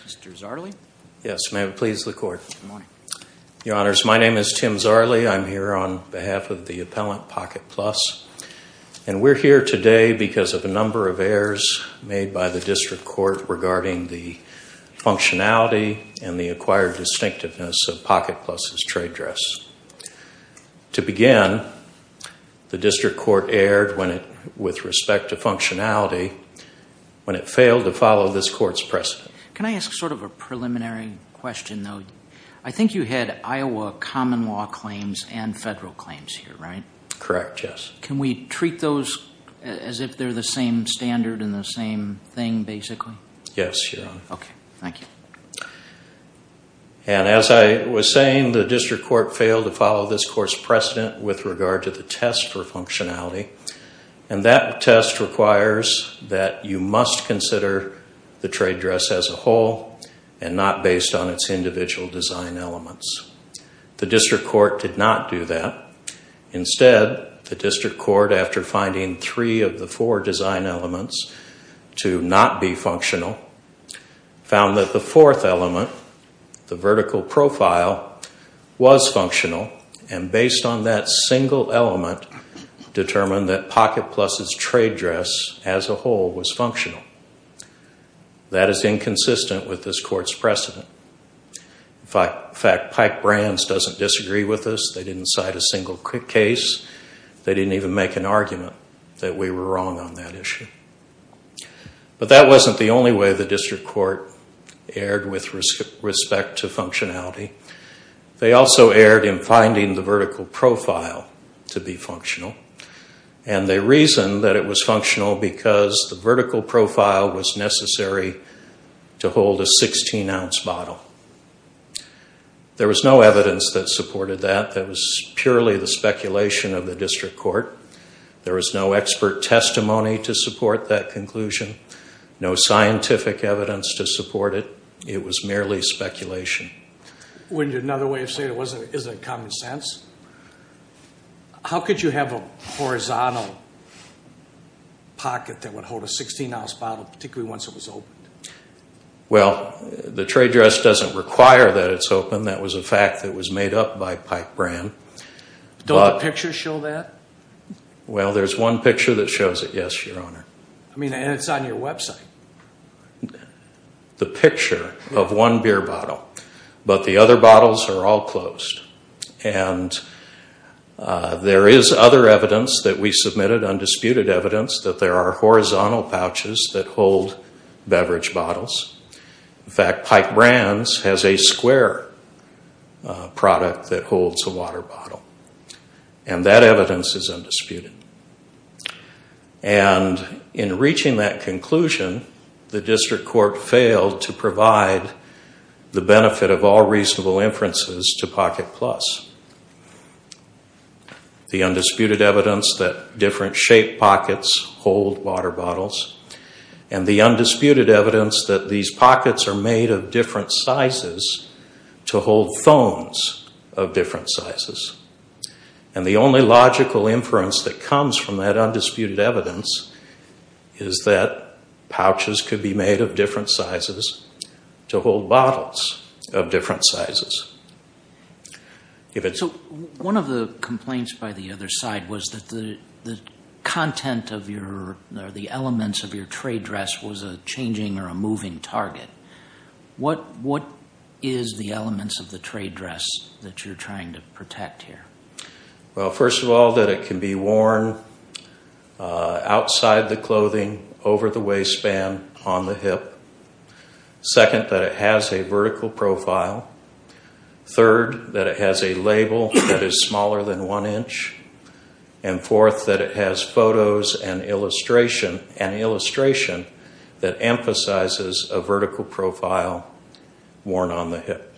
Mr. Zarley. Yes, may it please the Court. Your Honors, my name is Tim Zarley. I'm here on behalf of the appellant, Pocket Plus, and we're here today because of a number of errors made by the District Court regarding the functionality and the acquired distinctiveness of Pocket Plus' trade dress. To begin, the District Court failed to follow this Court's precedent. Can I ask sort of a preliminary question, though? I think you had Iowa common law claims and federal claims here, right? Correct, yes. Can we treat those as if they're the same standard and the same thing, basically? Yes, Your Honor. Okay, thank you. And as I was saying, the District Court failed to follow this Court's precedent with regard to the test for functionality, and that test requires that you must consider the trade dress as a whole and not based on its individual design elements. The District Court did not do that. Instead, the District Court, after finding three of the four design elements to not be functional, found that the fourth element, the vertical profile, was functional, and based on that single element, determined that Pocket Plus' trade dress as a whole was functional. That is inconsistent with this Court's precedent. In fact, Pike-Brands doesn't disagree with us. They didn't cite a single case. They didn't even make an argument that we were wrong on that issue. But that wasn't the only way the District Court erred with respect to functionality. They also erred in finding the vertical profile to be functional, and they reasoned that it was functional because the vertical profile was necessary to hold a 16-ounce bottle. There was no evidence that supported that. That was purely the speculation of the District Court. There was no expert testimony to support that conclusion, no scientific evidence to support it. It was merely speculation. Wouldn't another way of say it, is it common sense? How could you have a horizontal pocket that would hold a 16-ounce bottle, particularly once it was opened? Well, the trade dress doesn't require that it's open. That was a fact that was made up by Pike-Brand. Don't the pictures show that? Well, there's one picture that shows it, yes, Your Honor. I mean, and it's on your website. The picture of one beer bottle, but the other bottles are all closed. And there is other evidence that we submitted, undisputed evidence, that there are horizontal pouches that hold beverage bottles. In fact, Pike-Brand has a square product that holds a water bottle, and that evidence is undisputed. And in the benefit of all reasonable inferences to Pocket Plus, the undisputed evidence that different shape pockets hold water bottles, and the undisputed evidence that these pockets are made of different sizes to hold phones of different sizes. And the only logical inference that comes from that undisputed evidence is that pouches could be made of different sizes to hold bottles of different sizes. So, one of the complaints by the other side was that the content of your, or the elements of your trade dress was a changing or a moving target. What, what is the elements of the trade dress that you're trying to protect here? Well, first of all, that it can be worn outside the clothing, over the waistband, on the hip. Second, that it has a vertical profile. Third, that it has a label that is smaller than one inch. And fourth, that it has photos and illustration, an illustration that emphasizes a vertical profile worn on the hip.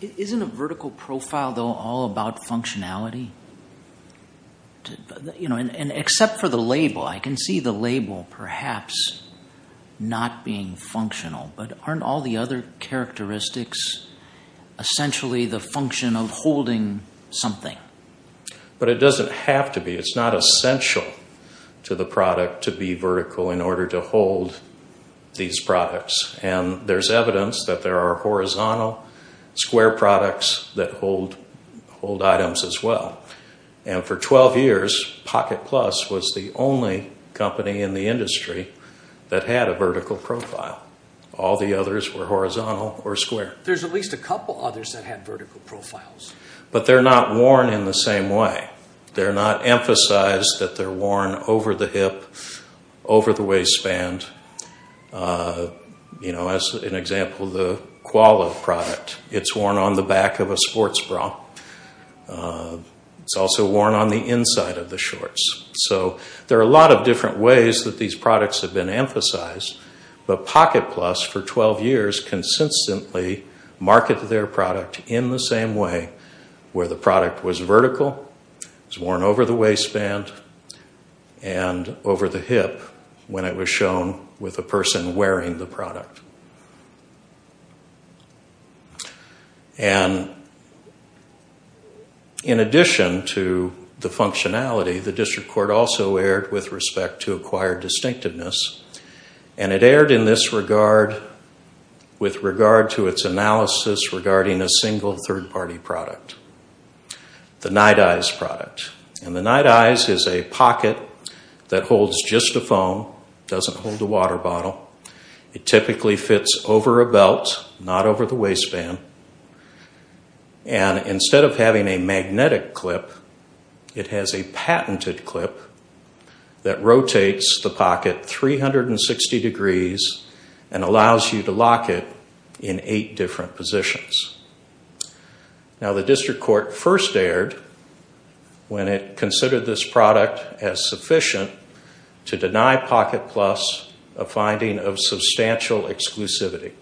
Isn't a vertical profile, though, all about functionality? You know, and except for the label, I can see the label perhaps not being functional, but aren't all the other characteristics essentially the function of holding something? But it doesn't have to be. It's not essential to the product to be vertical in order to have a vertical profile. There's evidence that there are horizontal square products that hold, hold items as well. And for 12 years, Pocket Plus was the only company in the industry that had a vertical profile. All the others were horizontal or square. There's at least a couple others that had vertical profiles. But they're not worn in the same way. They're not emphasized that they're worn over the hip, over the waistband. You know, as an example, the Koala product. It's worn on the back of a sports bra. It's also worn on the inside of the shorts. So there are a lot of different ways that these products have been emphasized. But Pocket Plus, for 12 years, consistently marketed their product in the same way, where the product was vertical, was worn over the waistband, and over the hip when it was shown with a person wearing the product. And in addition to the functionality, the district court also erred with respect to acquired distinctiveness. And it erred in this regard with regard to its analysis regarding a single third-party product. The Night Eyes product. And the product holds just a foam. It doesn't hold a water bottle. It typically fits over a belt, not over the waistband. And instead of having a magnetic clip, it has a patented clip that rotates the pocket 360 degrees and allows you to lock it in eight different positions. Now the district court first erred when it considered this product as sufficient to deny Pocket Plus a finding of substantial exclusivity.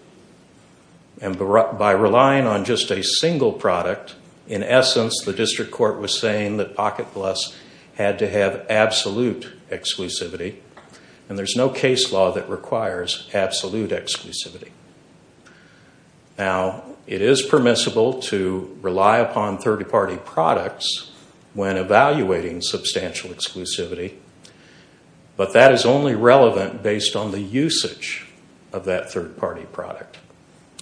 And by relying on just a single product, in essence, the district court was saying that Pocket Plus had to have absolute exclusivity. And there's no case law that requires absolute exclusivity. Now, it is permissible to rely upon third-party products when evaluating substantial exclusivity, but that is only relevant based on the usage of that third-party product.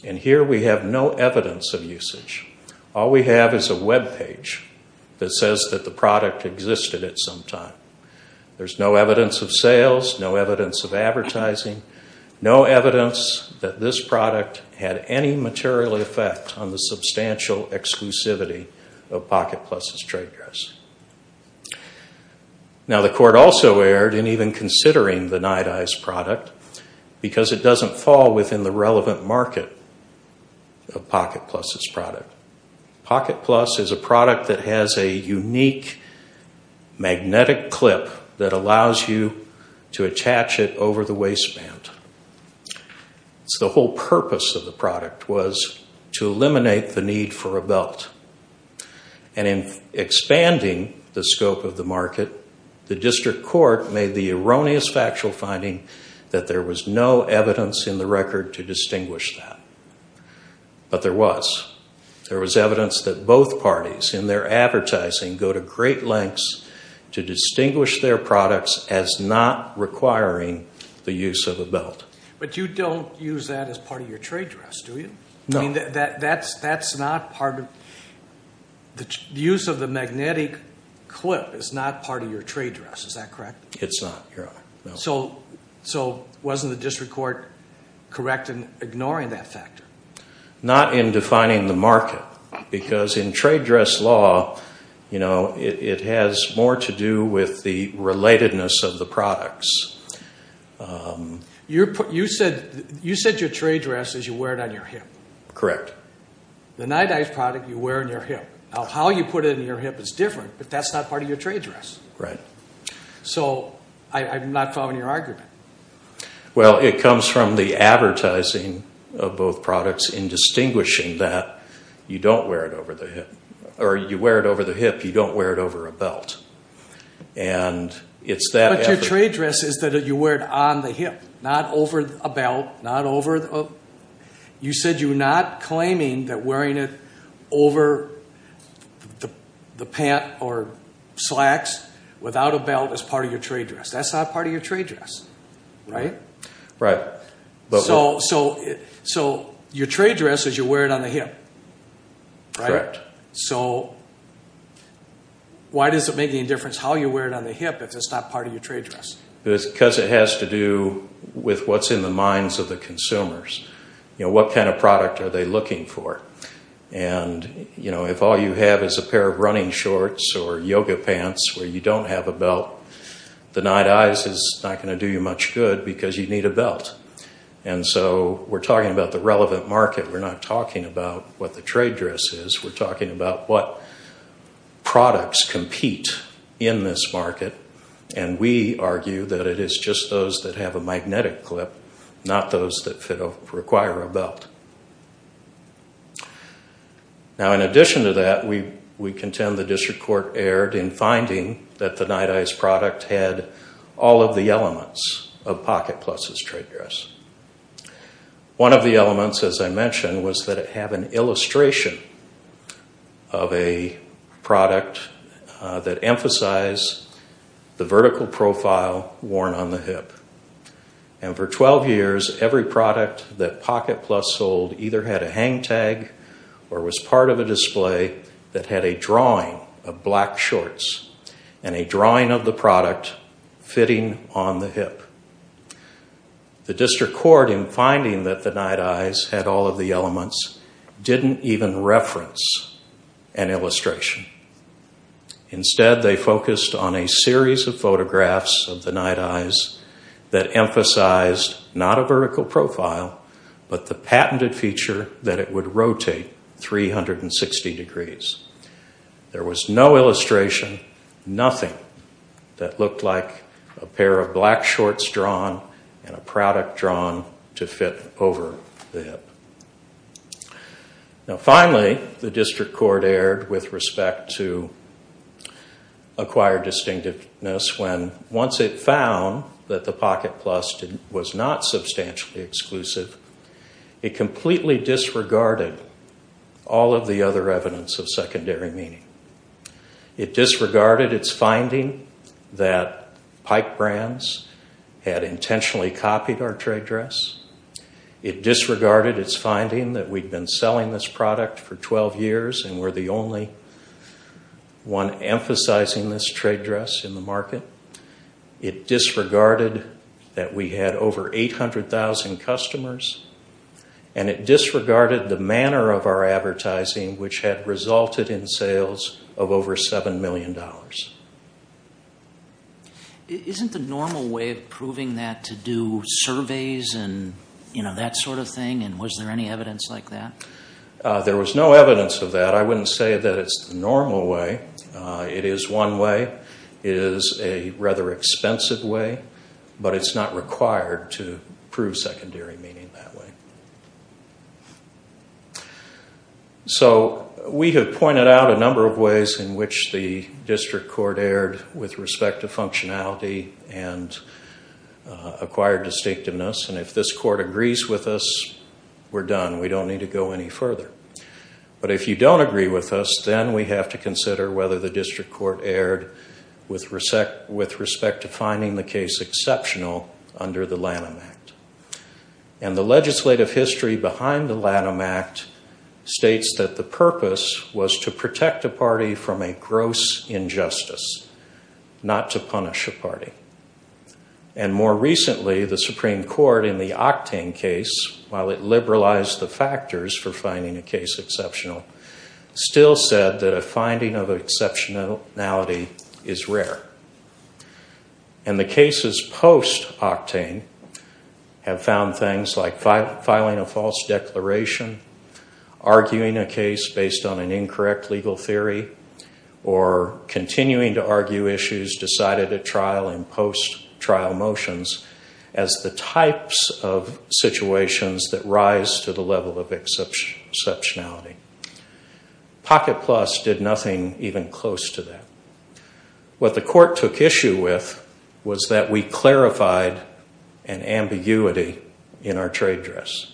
And here we have no evidence of usage. All we have is a webpage that says that the product existed at some time. There's no evidence of sales, no evidence of advertising, no evidence that this product had any material effect on the substantial exclusivity of Pocket Plus's trade dress. Now, the court also erred in even considering the Nite Ize product because it doesn't fall within the relevant market of Pocket Plus's product. Pocket Plus is a product that has a unique magnetic clip that allows you to attach it over the waistband. So the whole purpose of the product was to eliminate the need for a belt. And in expanding the scope of the market, the district court made the erroneous factual finding that there was no evidence in the record to distinguish that. But there was. There was evidence that both parties in their advertising go to great lengths to distinguish their products as not requiring the use of a belt. But you don't use that as part of your trade dress, do you? No. The use of the magnetic clip is not part of your trade dress, is that correct? It's not. So wasn't the district court correct in ignoring that factor? Not in defining the market. Because in trade dress law, it has more to do with the relatedness of the products. You said your trade dress is you wear it on your hip. Correct. The Nite Ize product, you wear it on your hip. Now, how you put it on your hip is different, but that's not part of your trade dress. Right. So I'm not following your argument. Well, it comes from the advertising of both products in distinguishing that you don't wear it over the hip. Or you wear it over the hip, you don't wear it over a belt. But your trade dress is that you wear it on the hip, not over a belt. You said you're not claiming that wearing it over the pant or slacks without a belt is part of your trade dress. That's not part of your trade dress, right? Right. So your trade dress is you wear it on the hip, right? Correct. So why does it make any difference how you wear it on the hip if it's not part of your trade dress? Because it has to do with what's in the minds of the consumers. What kind of product are they looking for? And if all you have is a pair of running shorts or yoga pants where you don't have a belt, the Nite Ize is not going to do you much good because you need a belt. And so we're talking about the relevant market. We're not talking about what the trade dress is. We're talking about what products compete in this market. And we argue that it is just those that have a magnetic clip, not those that require a belt. Now in addition to that, we contend the district court erred in finding that the Nite Ize product had all of the elements of Pocket Plus's trade dress. One of the elements, as I mentioned, was that it had an illustration of a product that emphasized the vertical profile worn on the hip. And for 12 years, every product that Pocket Plus sold either had a hang tag or was part of a display that had a drawing of black shorts and a drawing of the product fitting on the hip. The district court, in finding that the Nite Ize had all of the elements, didn't even reference an illustration. Instead, they focused on a series of photographs of the Nite Ize that emphasized not a vertical profile, but the patented feature that it would rotate 360 degrees. There was no illustration, nothing that looked like a pair of black shorts drawn and a product drawn to fit over the hip. Now finally, the district court erred with respect to acquired distinctiveness when once it found that the Pocket Plus was not substantially exclusive, it completely disregarded all of the other evidence of secondary meaning. It disregarded its finding that Pike Brands had intentionally copied our trade dress. It disregarded its finding that we'd been selling this product for 12 years and we're the only one emphasizing this trade dress in the market. It disregarded that we had over 800,000 customers. And it disregarded the manner of our advertising, which had resulted in sales of over $7 million. Isn't the normal way of proving that to do surveys and that sort of thing? And was there any evidence like that? There was no evidence of that. I wouldn't say that it's the normal way. It is one way. It is a rather expensive way, but it's not required to prove secondary meaning that way. So we have pointed out a number of ways in which the district court erred with respect to functionality and acquired distinctiveness. And if this court agrees with us, we're done. We don't need to go any further. But if you don't agree with us, then we have to consider whether the district court erred with respect to finding the case exceptional under the Lanham Act. And the legislative history behind the Lanham Act states that the purpose was to protect a party from a gross injustice, not to punish a party. And more recently, the Supreme Court in the Octane case, while it liberalized the factors for finding a case exceptional, still said that a finding of exceptionality is rare. And the cases post-Octane have found things like filing a false declaration, arguing a case based on an incorrect legal theory, or continuing to argue issues decided at trial in post-trial motions as the types of situations that rise to the level of exceptionality. Pocket Plus did nothing even close to that. What the court took issue with was that we clarified an ambiguity in our trade dress.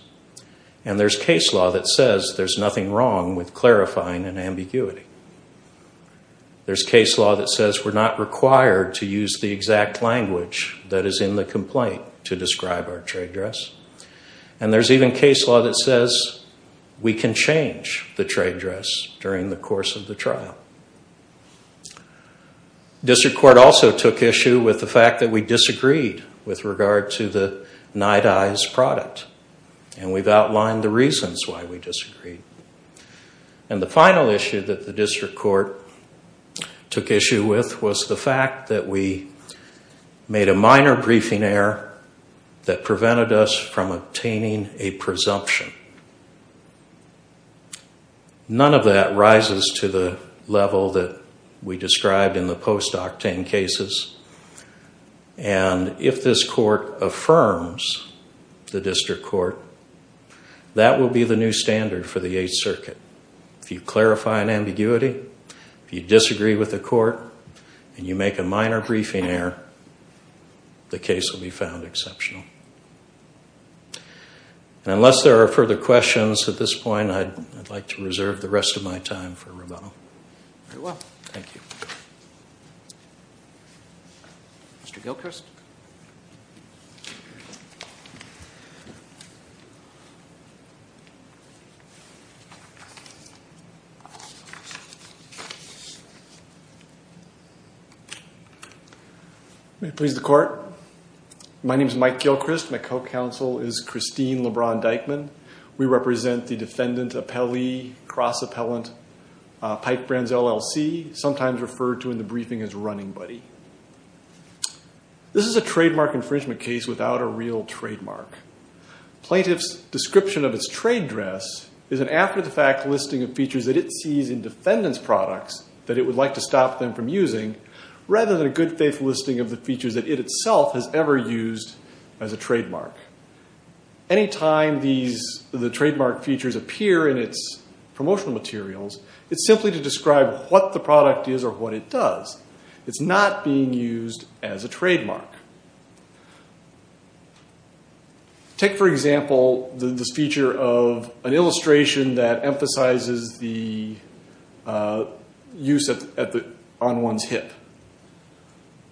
And there's case law that says there's nothing wrong with clarifying an ambiguity. There's case law that says we're not required to use the exact language that is in the complaint to describe our trade dress. And there's even case law that says we can change the trade dress during the course of the trial. District Court also took issue with the fact that we disagreed with regard to the Night Eyes product. And we've outlined the reasons why we disagreed. And the final issue that the District Court took issue with was the fact that we made a minor briefing error that prevented us from obtaining a presumption. None of that rises to the level that we described in the post-Octane cases. And if this court affirms the District Court, that will be the new standard for the Eighth Circuit. If you clarify an ambiguity, if you disagree with the court, and you make a minor briefing error, the case will be found exceptional. And unless there are further questions at this point, I'd like to reserve the rest of my time for rebuttal. Very well. Thank you. Mr. Gilchrist. May it please the Court. My name is Mike Gilchrist. My co-counsel is Christine LeBron-Dykeman. We represent the Defendant Appellee Cross-Appellant Pipe Brands LLC, sometimes referred to in the briefing as Running Buddy. This is a trademark infringement case without a real trademark. Plaintiff's description of its trade dress is an after-the-fact listing of features that it sees in defendant's products that it would like to stop them from using, rather than a good-faith listing of the features that it itself has ever used as a trademark. Any time the trademark features appear in its promotional materials, it's simply to describe what the product is or what it does. It's not being used as a trademark. Take, for example, this feature of an illustration that emphasizes the use on one's hip.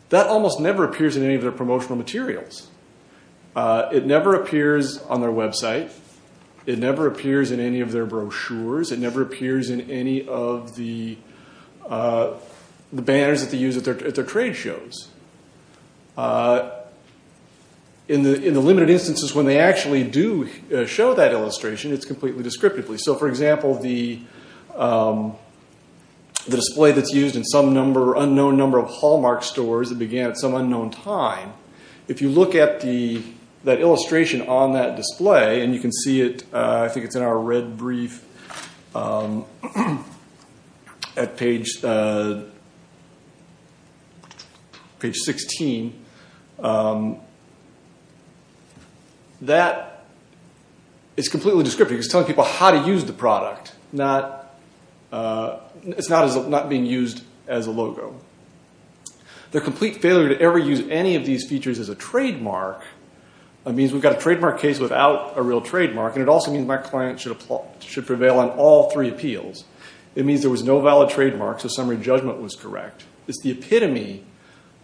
That almost never appears in any of their promotional materials. It never appears on their website. It never appears in any of their brochures. It never appears in any of the banners that they use at their trade shows. In the limited instances when they actually do show that illustration, it's completely descriptively. For example, the display that's used in some unknown number of Hallmark stores that began at some unknown time. If you look at that illustration on that display, and you can see it, I think it's in our red brief at page 16, that is completely descriptive. It's telling people how to use the product. It's not being used as a logo. Their complete failure to ever use any of these features as a trademark means we've got a trademark case without a real trademark. It also means my client should prevail on all three appeals. It means there was no valid trademark, so summary judgment was correct. It's the epitome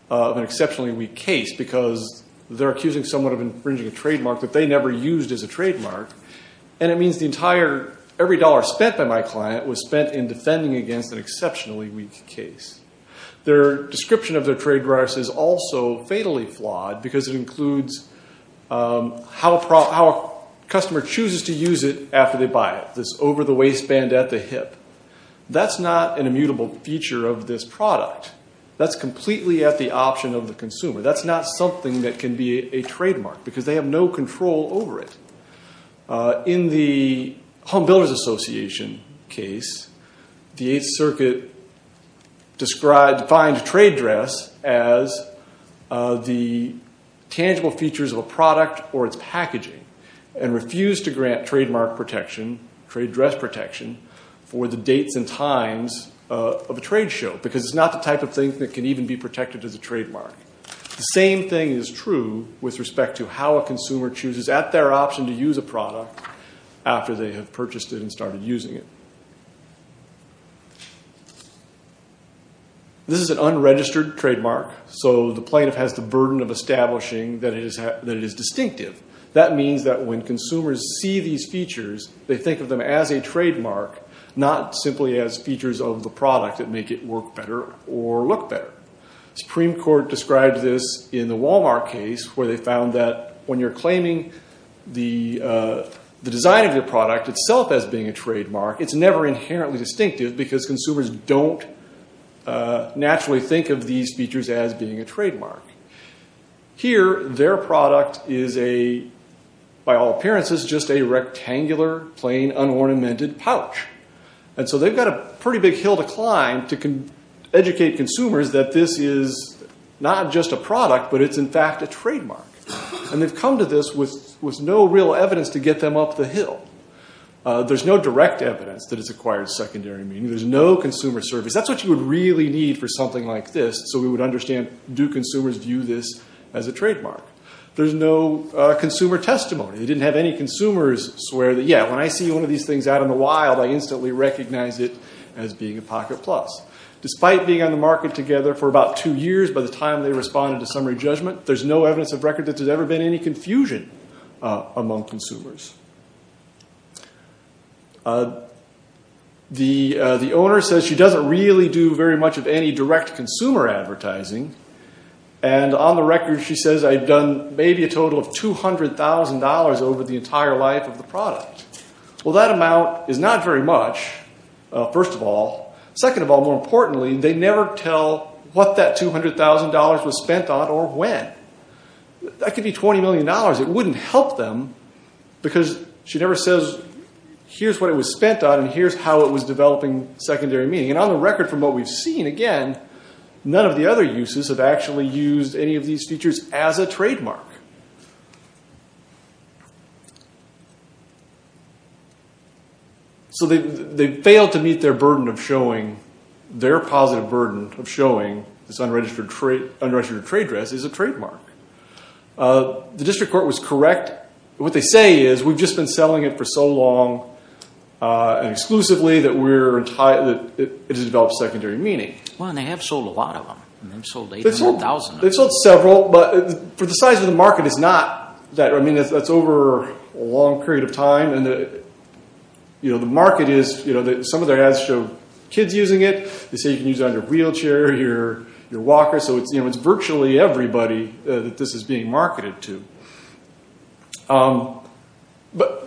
of an exceptionally weak case because they're accusing someone of infringing a trademark that they never used as a trademark. It means every dollar spent by my client was spent in defending against an exceptionally weak case. Their description of their trademarks is also fatally flawed because it includes how a customer chooses to use it after they buy it. This over the waistband at the hip. That's not an immutable feature of this product. That's completely at the option of the consumer. That's not something that can be a trademark because they have no control over it. In the Home Builders Association case, the Eighth Circuit defined a trade dress as the tangible features of a product or its packaging and refused to grant trademark protection, trade dress protection, for the dates and times of a trade show because it's not the type of thing that can even be protected as a trademark. The same thing is true with respect to how a consumer chooses at their option to use a product after they have purchased it and started using it. This is an unregistered trademark, so the plaintiff has the burden of establishing that it is distinctive. That means that when consumers see these features, they think of them as a trademark, not simply as features of the product that make it work better or look better. Supreme Court described this in the Walmart case where they found that when you're claiming the design of your product itself as being a trademark, it's never inherently distinctive because consumers don't naturally think of these features as being a trademark. Here, their product is a, by all appearances, just a rectangular, plain, unornamented pouch. And so they've got a pretty big hill to climb to educate consumers that this is not just a product, but it's in fact a trademark. And they've come to this with no real evidence to get them up the hill. There's no direct evidence that it's acquired secondary meaning. There's no consumer service. That's what you would really need for something like this so we would understand do consumers view this as a trademark. There's no consumer testimony. They didn't have any consumers swear that, yeah, when I see one of these things out in the wild, I instantly recognize it as being a Pocket Plus. Despite being on the market together for about two years by the time they responded to summary judgment, there's no evidence of record that there's ever been any confusion among consumers. The owner says she doesn't really do very much of any direct consumer advertising, and on the record she says I've done maybe a total of $200,000 over the entire life of the product. Well, that amount is not very much, first of all. Second of all, more importantly, they never tell what that $200,000 was spent on or when. That could be $20 million. It wouldn't help them because she never says here's what it was spent on and here's how it was developing secondary meaning. And on the record from what we've seen, again, none of the other uses have actually used any of these features as a trademark. So they failed to meet their burden of showing, their positive burden of showing this unregistered trade dress as a trademark. The district court was correct. What they say is we've just been selling it for so long exclusively that it has developed secondary meaning. Well, and they have sold a lot of them. They've sold 800,000 of them. They've sold several, but for the size of the market, it's not that. I mean, that's over a long period of time. And the market is, some of their ads show kids using it. They say you can use it on your wheelchair, your walker. So it's virtually everybody that this is being marketed to. But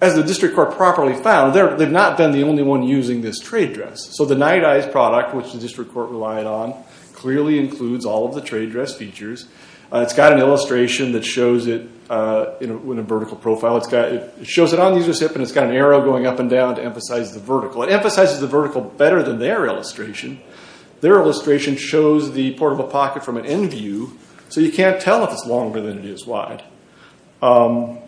as the district court properly found, they've not been the only one using this trade dress. So the Night Eyes product, which the district court relied on, clearly includes all of the trade dress features. It's got an illustration that shows it in a vertical profile. It shows it on the user's hip and it's got an arrow going up and down to emphasize the vertical. It emphasizes the vertical better than their illustration. Their illustration shows the portable pocket from an end view, so you can't tell if it's longer than it is wide. The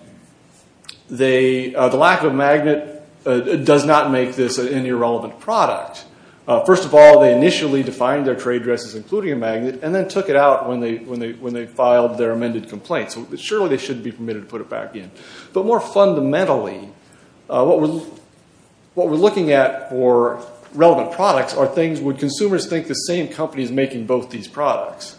lack of a magnet does not make this an irrelevant product. First of all, they initially defined their trade dresses including a magnet and then took it out when they filed their amended complaint. So surely they shouldn't be permitted to put it back in. But more fundamentally, what we're looking at for relevant products are things would consumers think the same company is making both these products.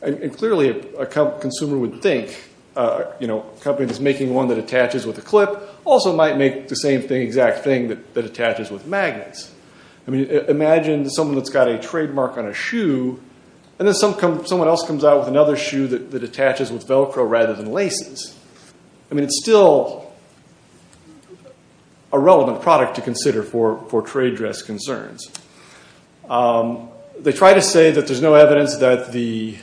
And clearly a consumer would think a company that's making one that attaches with a clip also might make the same exact thing that attaches with magnets. Imagine someone that's got a trademark on a shoe and then someone else comes out with another shoe that attaches with Velcro rather than laces. I mean, it's still a relevant product to consider for trade dress concerns. They try to say that there's no evidence that the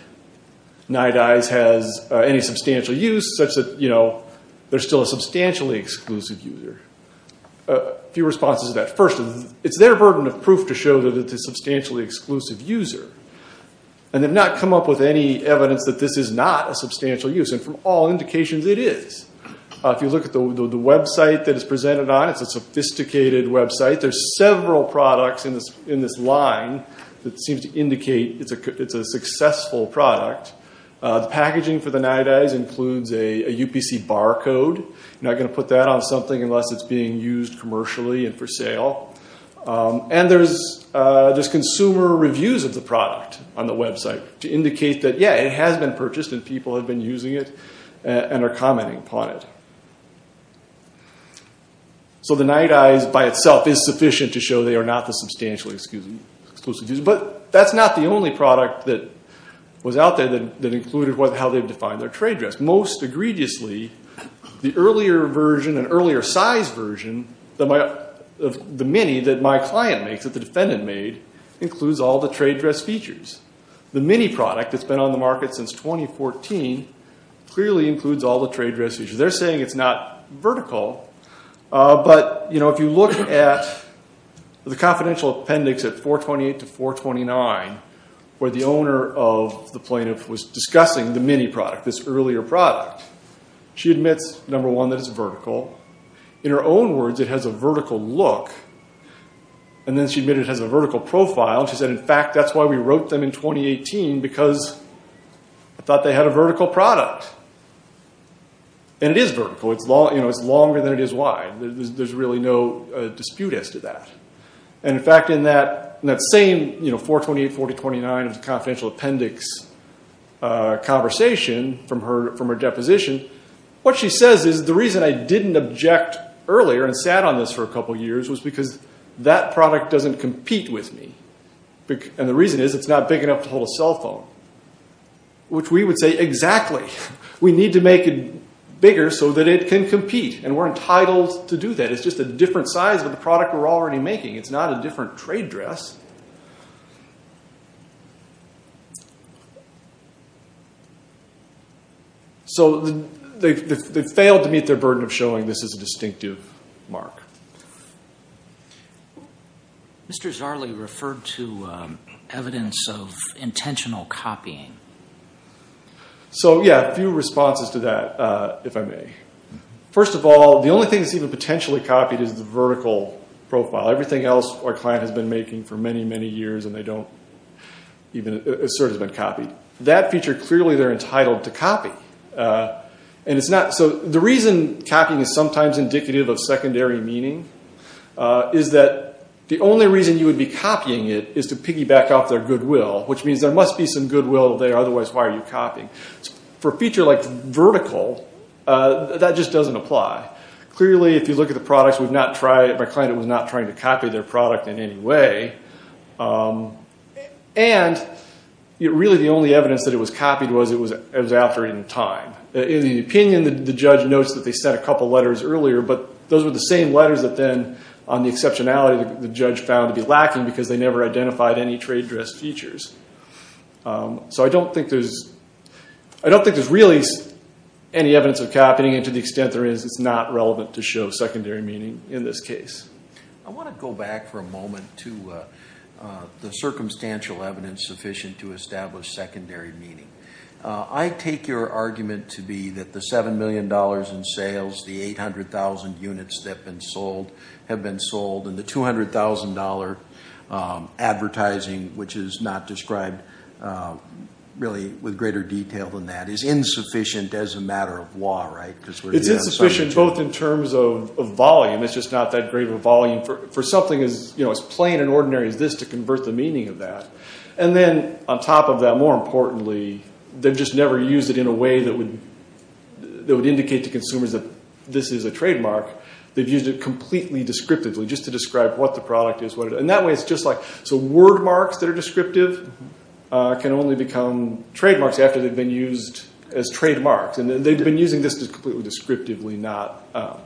Nite-Eyes has any substantial use such that they're still a substantially exclusive user. A few responses to that. First, it's their burden of proof to show that it's a substantially exclusive user. And they've not come up with any evidence that this is not a substantial use. And from all indications, it is. If you look at the website that it's presented on, it's a sophisticated website. There's several products in this line that seems to indicate it's a successful product. The packaging for the Nite-Eyes includes a UPC barcode. You're not going to put that on something unless it's being used commercially and for sale. And there's consumer reviews of the product on the website to indicate that, yeah, it has been purchased and people have been using it and are commenting upon it. So the Nite-Eyes by itself is sufficient to show they are not the substantial exclusive user. But that's not the only product that was out there that included how they've defined their trade dress. Most egregiously, the earlier version, an earlier size version of the Mini that my client makes, that the defendant made, includes all the trade dress features. The Mini product that's been on the market since 2014 clearly includes all the trade dress features. They're saying it's not vertical. But, you know, if you look at the confidential appendix at 428 to 429, where the owner of the plaintiff was discussing the Mini product, this earlier product, she admits, number one, that it's vertical. In her own words, it has a vertical look. And then she admitted it has a vertical profile. She said, in fact, that's why we wrote them in 2018, because I thought they had a vertical product. And it is vertical. It's longer than it is wide. There's really no dispute as to that. And, in fact, in that same 428, 429 of the confidential appendix conversation from her deposition, what she says is the reason I didn't object earlier and sat on this for a couple years was because that product doesn't compete with me. And the reason is it's not big enough to hold a cell phone, which we would say, exactly. We need to make it bigger so that it can compete. And we're entitled to do that. It's just a different size of the product we're already making. It's not a different trade dress. So they failed to meet their burden of showing this is a distinctive mark. Mr. Zarley referred to evidence of intentional copying. So, yeah, a few responses to that, if I may. First of all, the only thing that's even potentially copied is the vertical profile. Everything else our client has been making for many, many years and they don't even assert has been copied. That feature, clearly they're entitled to copy. So the reason copying is sometimes indicative of secondary meaning is that the only reason you would be copying it is to piggyback off their goodwill, which means there must be some goodwill there. Otherwise, why are you copying? For a feature like vertical, that just doesn't apply. Clearly, if you look at the products, my client was not trying to copy their product in any way. And really the only evidence that it was copied was it was out during time. In the opinion, the judge notes that they sent a couple letters earlier, but those were the same letters that then on the exceptionality the judge found to be lacking because they never identified any trade dress features. So I don't think there's really any evidence of copying, and to the extent there is, it's not relevant to show secondary meaning in this case. I want to go back for a moment to the circumstantial evidence sufficient to establish secondary meaning. I take your argument to be that the $7 million in sales, the 800,000 units that have been sold, and the $200,000 advertising, which is not described really with greater detail than that, is insufficient as a matter of law, right? It's insufficient both in terms of volume. It's just not that great of a volume for something as plain and ordinary as this to convert the meaning of that. And then on top of that, more importantly, they've just never used it in a way that would indicate to consumers that this is a trademark. They've used it completely descriptively just to describe what the product is. So word marks that are descriptive can only become trademarks after they've been used as trademarks. And they've been using this completely descriptively, not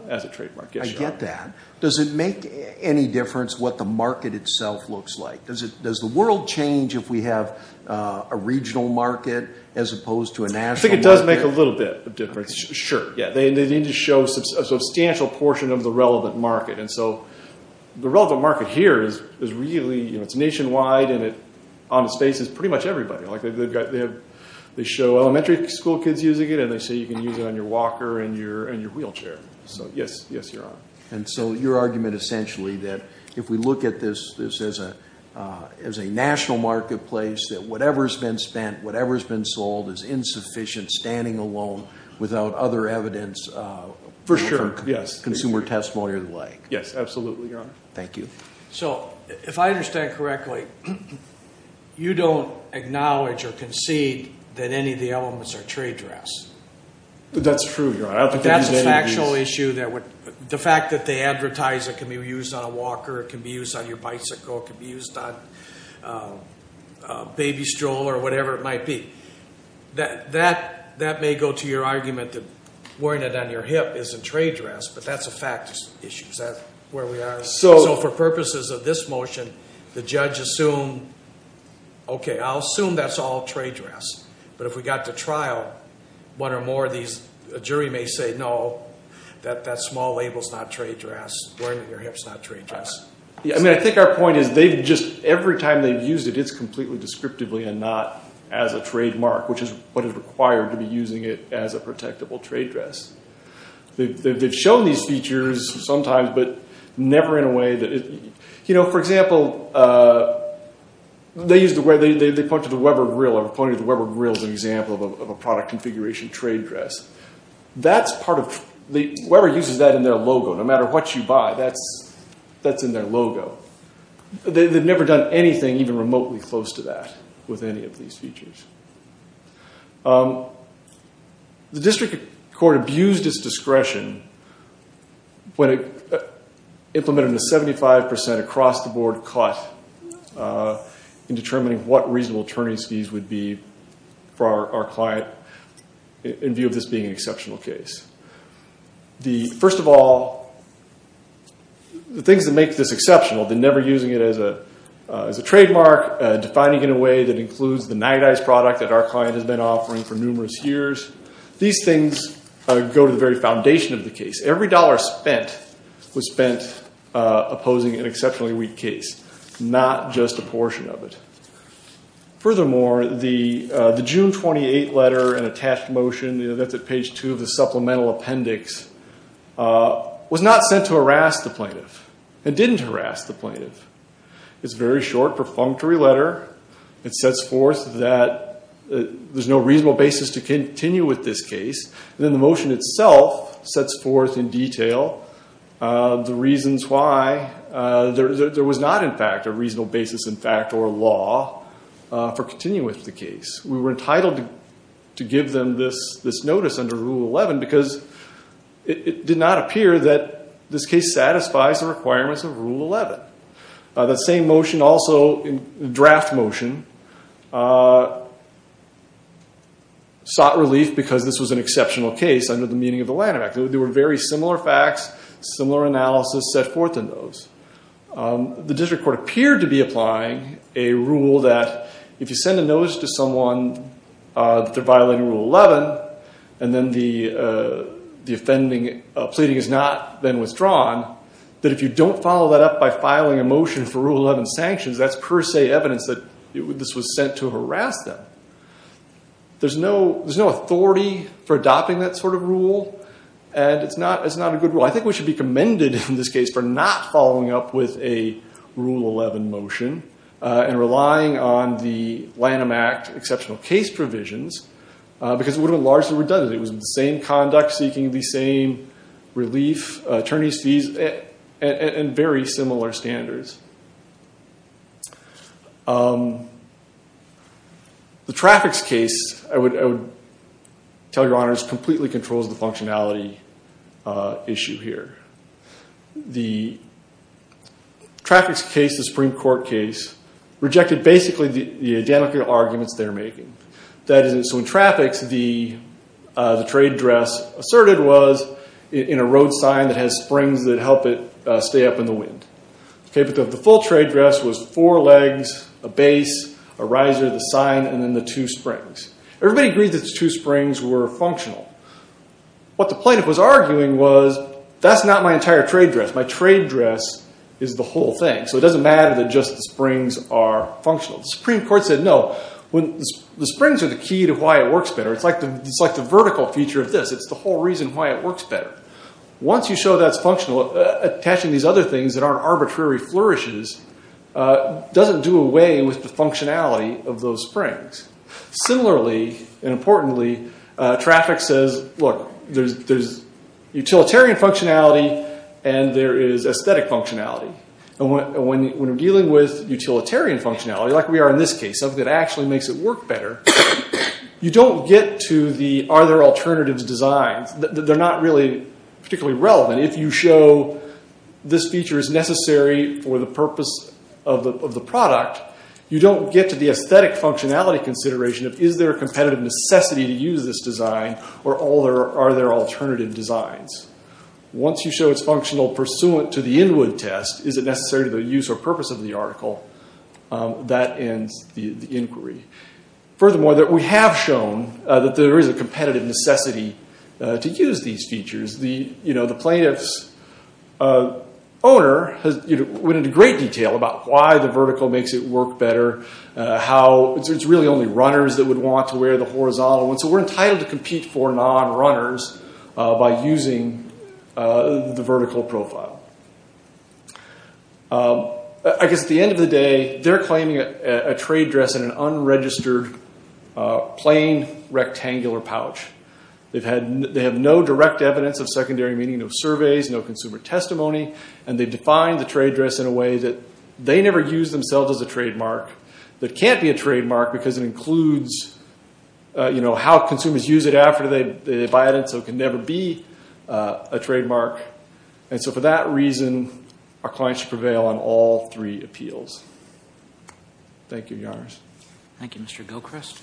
as a trademark. I get that. Does it make any difference what the market itself looks like? Does the world change if we have a regional market as opposed to a national market? I think it does make a little bit of difference, sure. They need to show a substantial portion of the relevant market. And so the relevant market here is really nationwide and on the space is pretty much everybody. They show elementary school kids using it, and they say you can use it on your walker and your wheelchair. So, yes, you're on. And so your argument essentially that if we look at this as a national marketplace, that whatever's been spent, whatever's been sold is insufficient, standing alone, without other evidence. For sure, yes. Consumer testimony or the like. Yes, absolutely, Your Honor. Thank you. So if I understand correctly, you don't acknowledge or concede that any of the elements are trade dress. That's true, Your Honor. That's a factual issue. The fact that they advertise it can be used on a walker, it can be used on your bicycle, it can be used on a baby stroller or whatever it might be. That may go to your argument that wearing it on your hip isn't trade dress, but that's a factual issue. Is that where we are? So for purposes of this motion, the judge assumed, okay, I'll assume that's all trade dress. But if we got to trial, one or more of these, a jury may say, no, that small label's not trade dress, wearing it on your hip's not trade dress. I mean, I think our point is every time they've used it, it's completely descriptively and not as a trademark, which is what is required to be using it as a protectable trade dress. They've shown these features sometimes, but never in a way that it, you know, for example, they point to the Weber grill as an example of a product configuration trade dress. Weber uses that in their logo. No matter what you buy, that's in their logo. They've never done anything even remotely close to that with any of these features. The district court abused its discretion when it implemented a 75% across-the-board cut in determining what reasonable attorney's fees would be for our client in view of this being an exceptional case. First of all, the things that make this exceptional, the never using it as a trademark, defining it in a way that includes the Nite Ize product that our client has been offering for numerous years, these things go to the very foundation of the case. Every dollar spent was spent opposing an exceptionally weak case, not just a portion of it. Furthermore, the June 28 letter and attached motion, that's at page two of the supplemental appendix, was not sent to harass the plaintiff. It didn't harass the plaintiff. It's a very short, perfunctory letter. It sets forth that there's no reasonable basis to continue with this case. Then the motion itself sets forth in detail the reasons why there was not, in fact, a reasonable basis, in fact, or law for continuing with the case. We were entitled to give them this notice under Rule 11 because it did not appear that this case satisfies the requirements of Rule 11. That same motion also, draft motion, sought relief because this was an exceptional case under the meaning of the Lanham Act. There were very similar facts, similar analysis set forth in those. The district court appeared to be applying a rule that if you send a notice to someone that they're violating Rule 11 and then the offending pleading has not been withdrawn, that if you don't follow that up by filing a motion for Rule 11 sanctions, that's per se evidence that this was sent to harass them. There's no authority for adopting that sort of rule, and it's not a good rule. I think we should be commended in this case for not following up with a Rule 11 motion and relying on the Lanham Act exceptional case provisions because it would have largely redundant. It was the same conduct seeking the same relief, attorney's fees, and very similar standards. The traffics case, I would tell your honors, completely controls the functionality issue here. The traffics case, the Supreme Court case, rejected basically the identical arguments they're making. That is, in traffics, the trade address asserted was in a road sign that has springs that help it stay up in the wind. The full trade address was four legs, a base, a riser, the sign, and then the two springs. Everybody agreed that the two springs were functional. What the plaintiff was arguing was that's not my entire trade address. My trade address is the whole thing, so it doesn't matter that just the springs are functional. The Supreme Court said no. The springs are the key to why it works better. It's like the vertical feature of this. It's the whole reason why it works better. Once you show that's functional, attaching these other things that aren't arbitrary flourishes doesn't do away with the functionality of those springs. Similarly and importantly, traffic says, look, there's utilitarian functionality and there is aesthetic functionality. When we're dealing with utilitarian functionality, like we are in this case, something that actually makes it work better, you don't get to the are there alternatives designed. They're not really particularly relevant. If you show this feature is necessary for the purpose of the product, you don't get to the aesthetic functionality consideration of is there a competitive necessity to use this design or are there alternative designs. Once you show it's functional pursuant to the Inwood test, is it necessary to the use or purpose of the article, that ends the inquiry. Furthermore, we have shown that there is a competitive necessity to use these features. The plaintiff's owner went into great detail about why the vertical makes it work better. It's really only runners that would want to wear the horizontal. We're entitled to compete for non-runners by using the vertical profile. At the end of the day, they're claiming a trade dress in an unregistered plain rectangular pouch. They have no direct evidence of secondary meaning, no surveys, no consumer testimony. They define the trade dress in a way that they never use themselves as a trademark. It can't be a trademark because it includes how consumers use it after they buy it. It can never be a trademark. For that reason, our client should prevail on all three appeals. Thank you, Your Honors. Thank you, Mr. Gilchrist.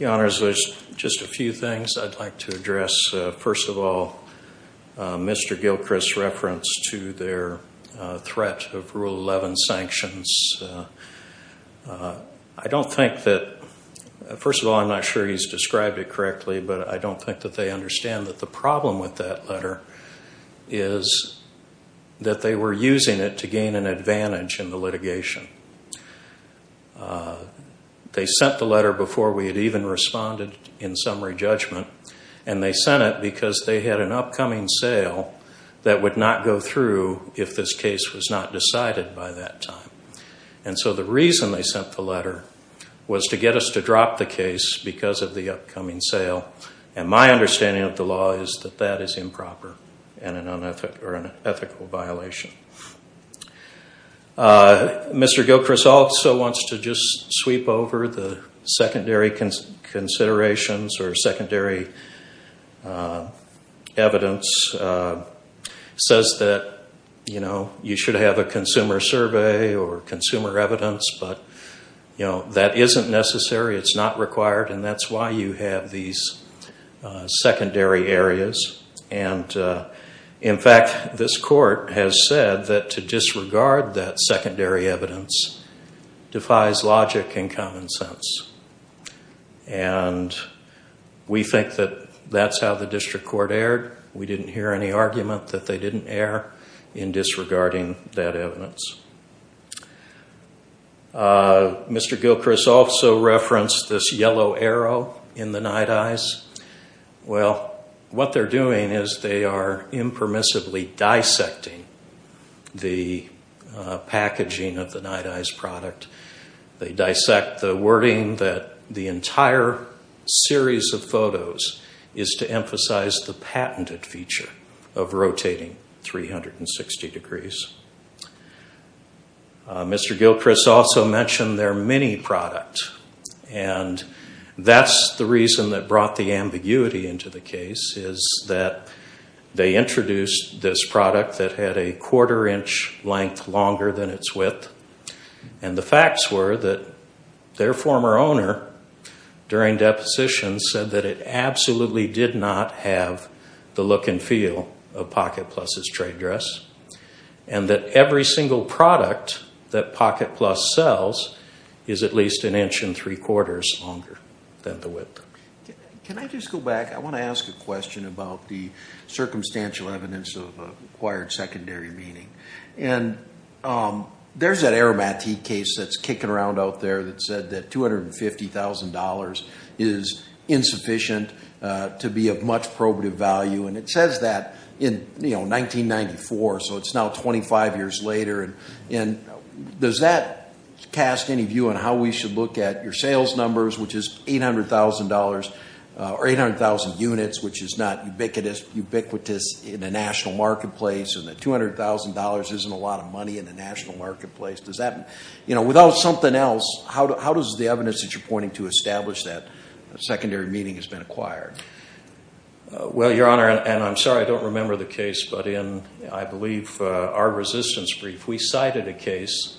Your Honors, there's just a few things I'd like to address. First of all, Mr. Gilchrist's reference to their threat of Rule 11 sanctions. First of all, I'm not sure he's described it correctly, but I don't think that they understand that the problem with that letter is that they were using it to gain an advantage in the litigation. They sent the letter before we had even responded in summary judgment, and they sent it because they had an upcoming sale that would not go through if this case was not decided by that time. And so the reason they sent the letter was to get us to drop the case because of the upcoming sale. And my understanding of the law is that that is improper and an ethical violation. Mr. Gilchrist also wants to just sweep over the secondary considerations or secondary evidence. He says that you should have a consumer survey or consumer evidence, but that isn't necessary. It's not required, and that's why you have these secondary areas. In fact, this Court has said that to disregard that secondary evidence defies logic and common sense. We think that that's how the District Court erred. We didn't hear any argument that they didn't err in disregarding that evidence. Mr. Gilchrist also referenced this yellow arrow in the night eyes. Well, what they're doing is they are impermissibly dissecting the packaging of the night eyes product. They dissect the wording that the entire series of photos is to emphasize the patented feature of rotating 360 degrees. Mr. Gilchrist also mentioned their mini product, and that's the reason that brought the ambiguity into the case, is that they introduced this product that had a quarter inch length longer than its width. And the facts were that their former owner, during deposition, said that it absolutely did not have the look and feel of Pocket Plus's trade dress, and that every single product that Pocket Plus sells is at least an inch and three quarters longer than the width. Can I just go back? I want to ask a question about the circumstantial evidence of acquired secondary meaning. And there's that Aramati case that's kicking around out there that said that $250,000 is insufficient to be of much probative value, and it says that in 1994, so it's now 25 years later. Does that cast any view on how we should look at your sales numbers, which is $800,000, or 800,000 units, which is not ubiquitous in a national marketplace, and that $200,000 isn't a lot of money in the national marketplace? Does that, you know, without something else, how does the evidence that you're pointing to establish that secondary meaning has been acquired? Well, Your Honor, and I'm sorry I don't remember the case, but in, I believe, our resistance brief, we cited a case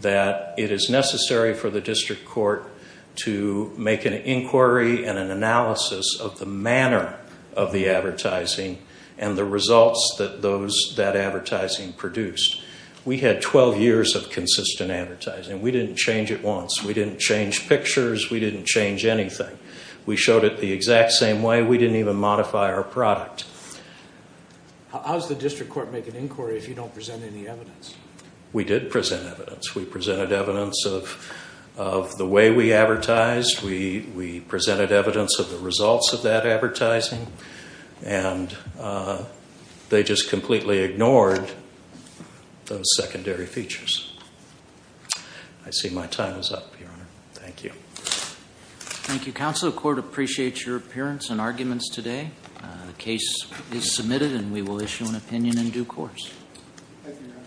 that it is necessary for the district court to make an inquiry and an analysis of the manner of the advertising and the results that that advertising produced. We had 12 years of consistent advertising. We didn't change it once. We didn't change pictures. We didn't change anything. We showed it the exact same way. We didn't even modify our product. How does the district court make an inquiry if you don't present any evidence? We did present evidence. We presented evidence of the way we advertised. We presented evidence of the results of that advertising, and they just completely ignored those secondary features. I see my time is up, Your Honor. Thank you. Thank you, Counsel. The court appreciates your appearance and arguments today. The case is submitted, and we will issue an opinion in due course.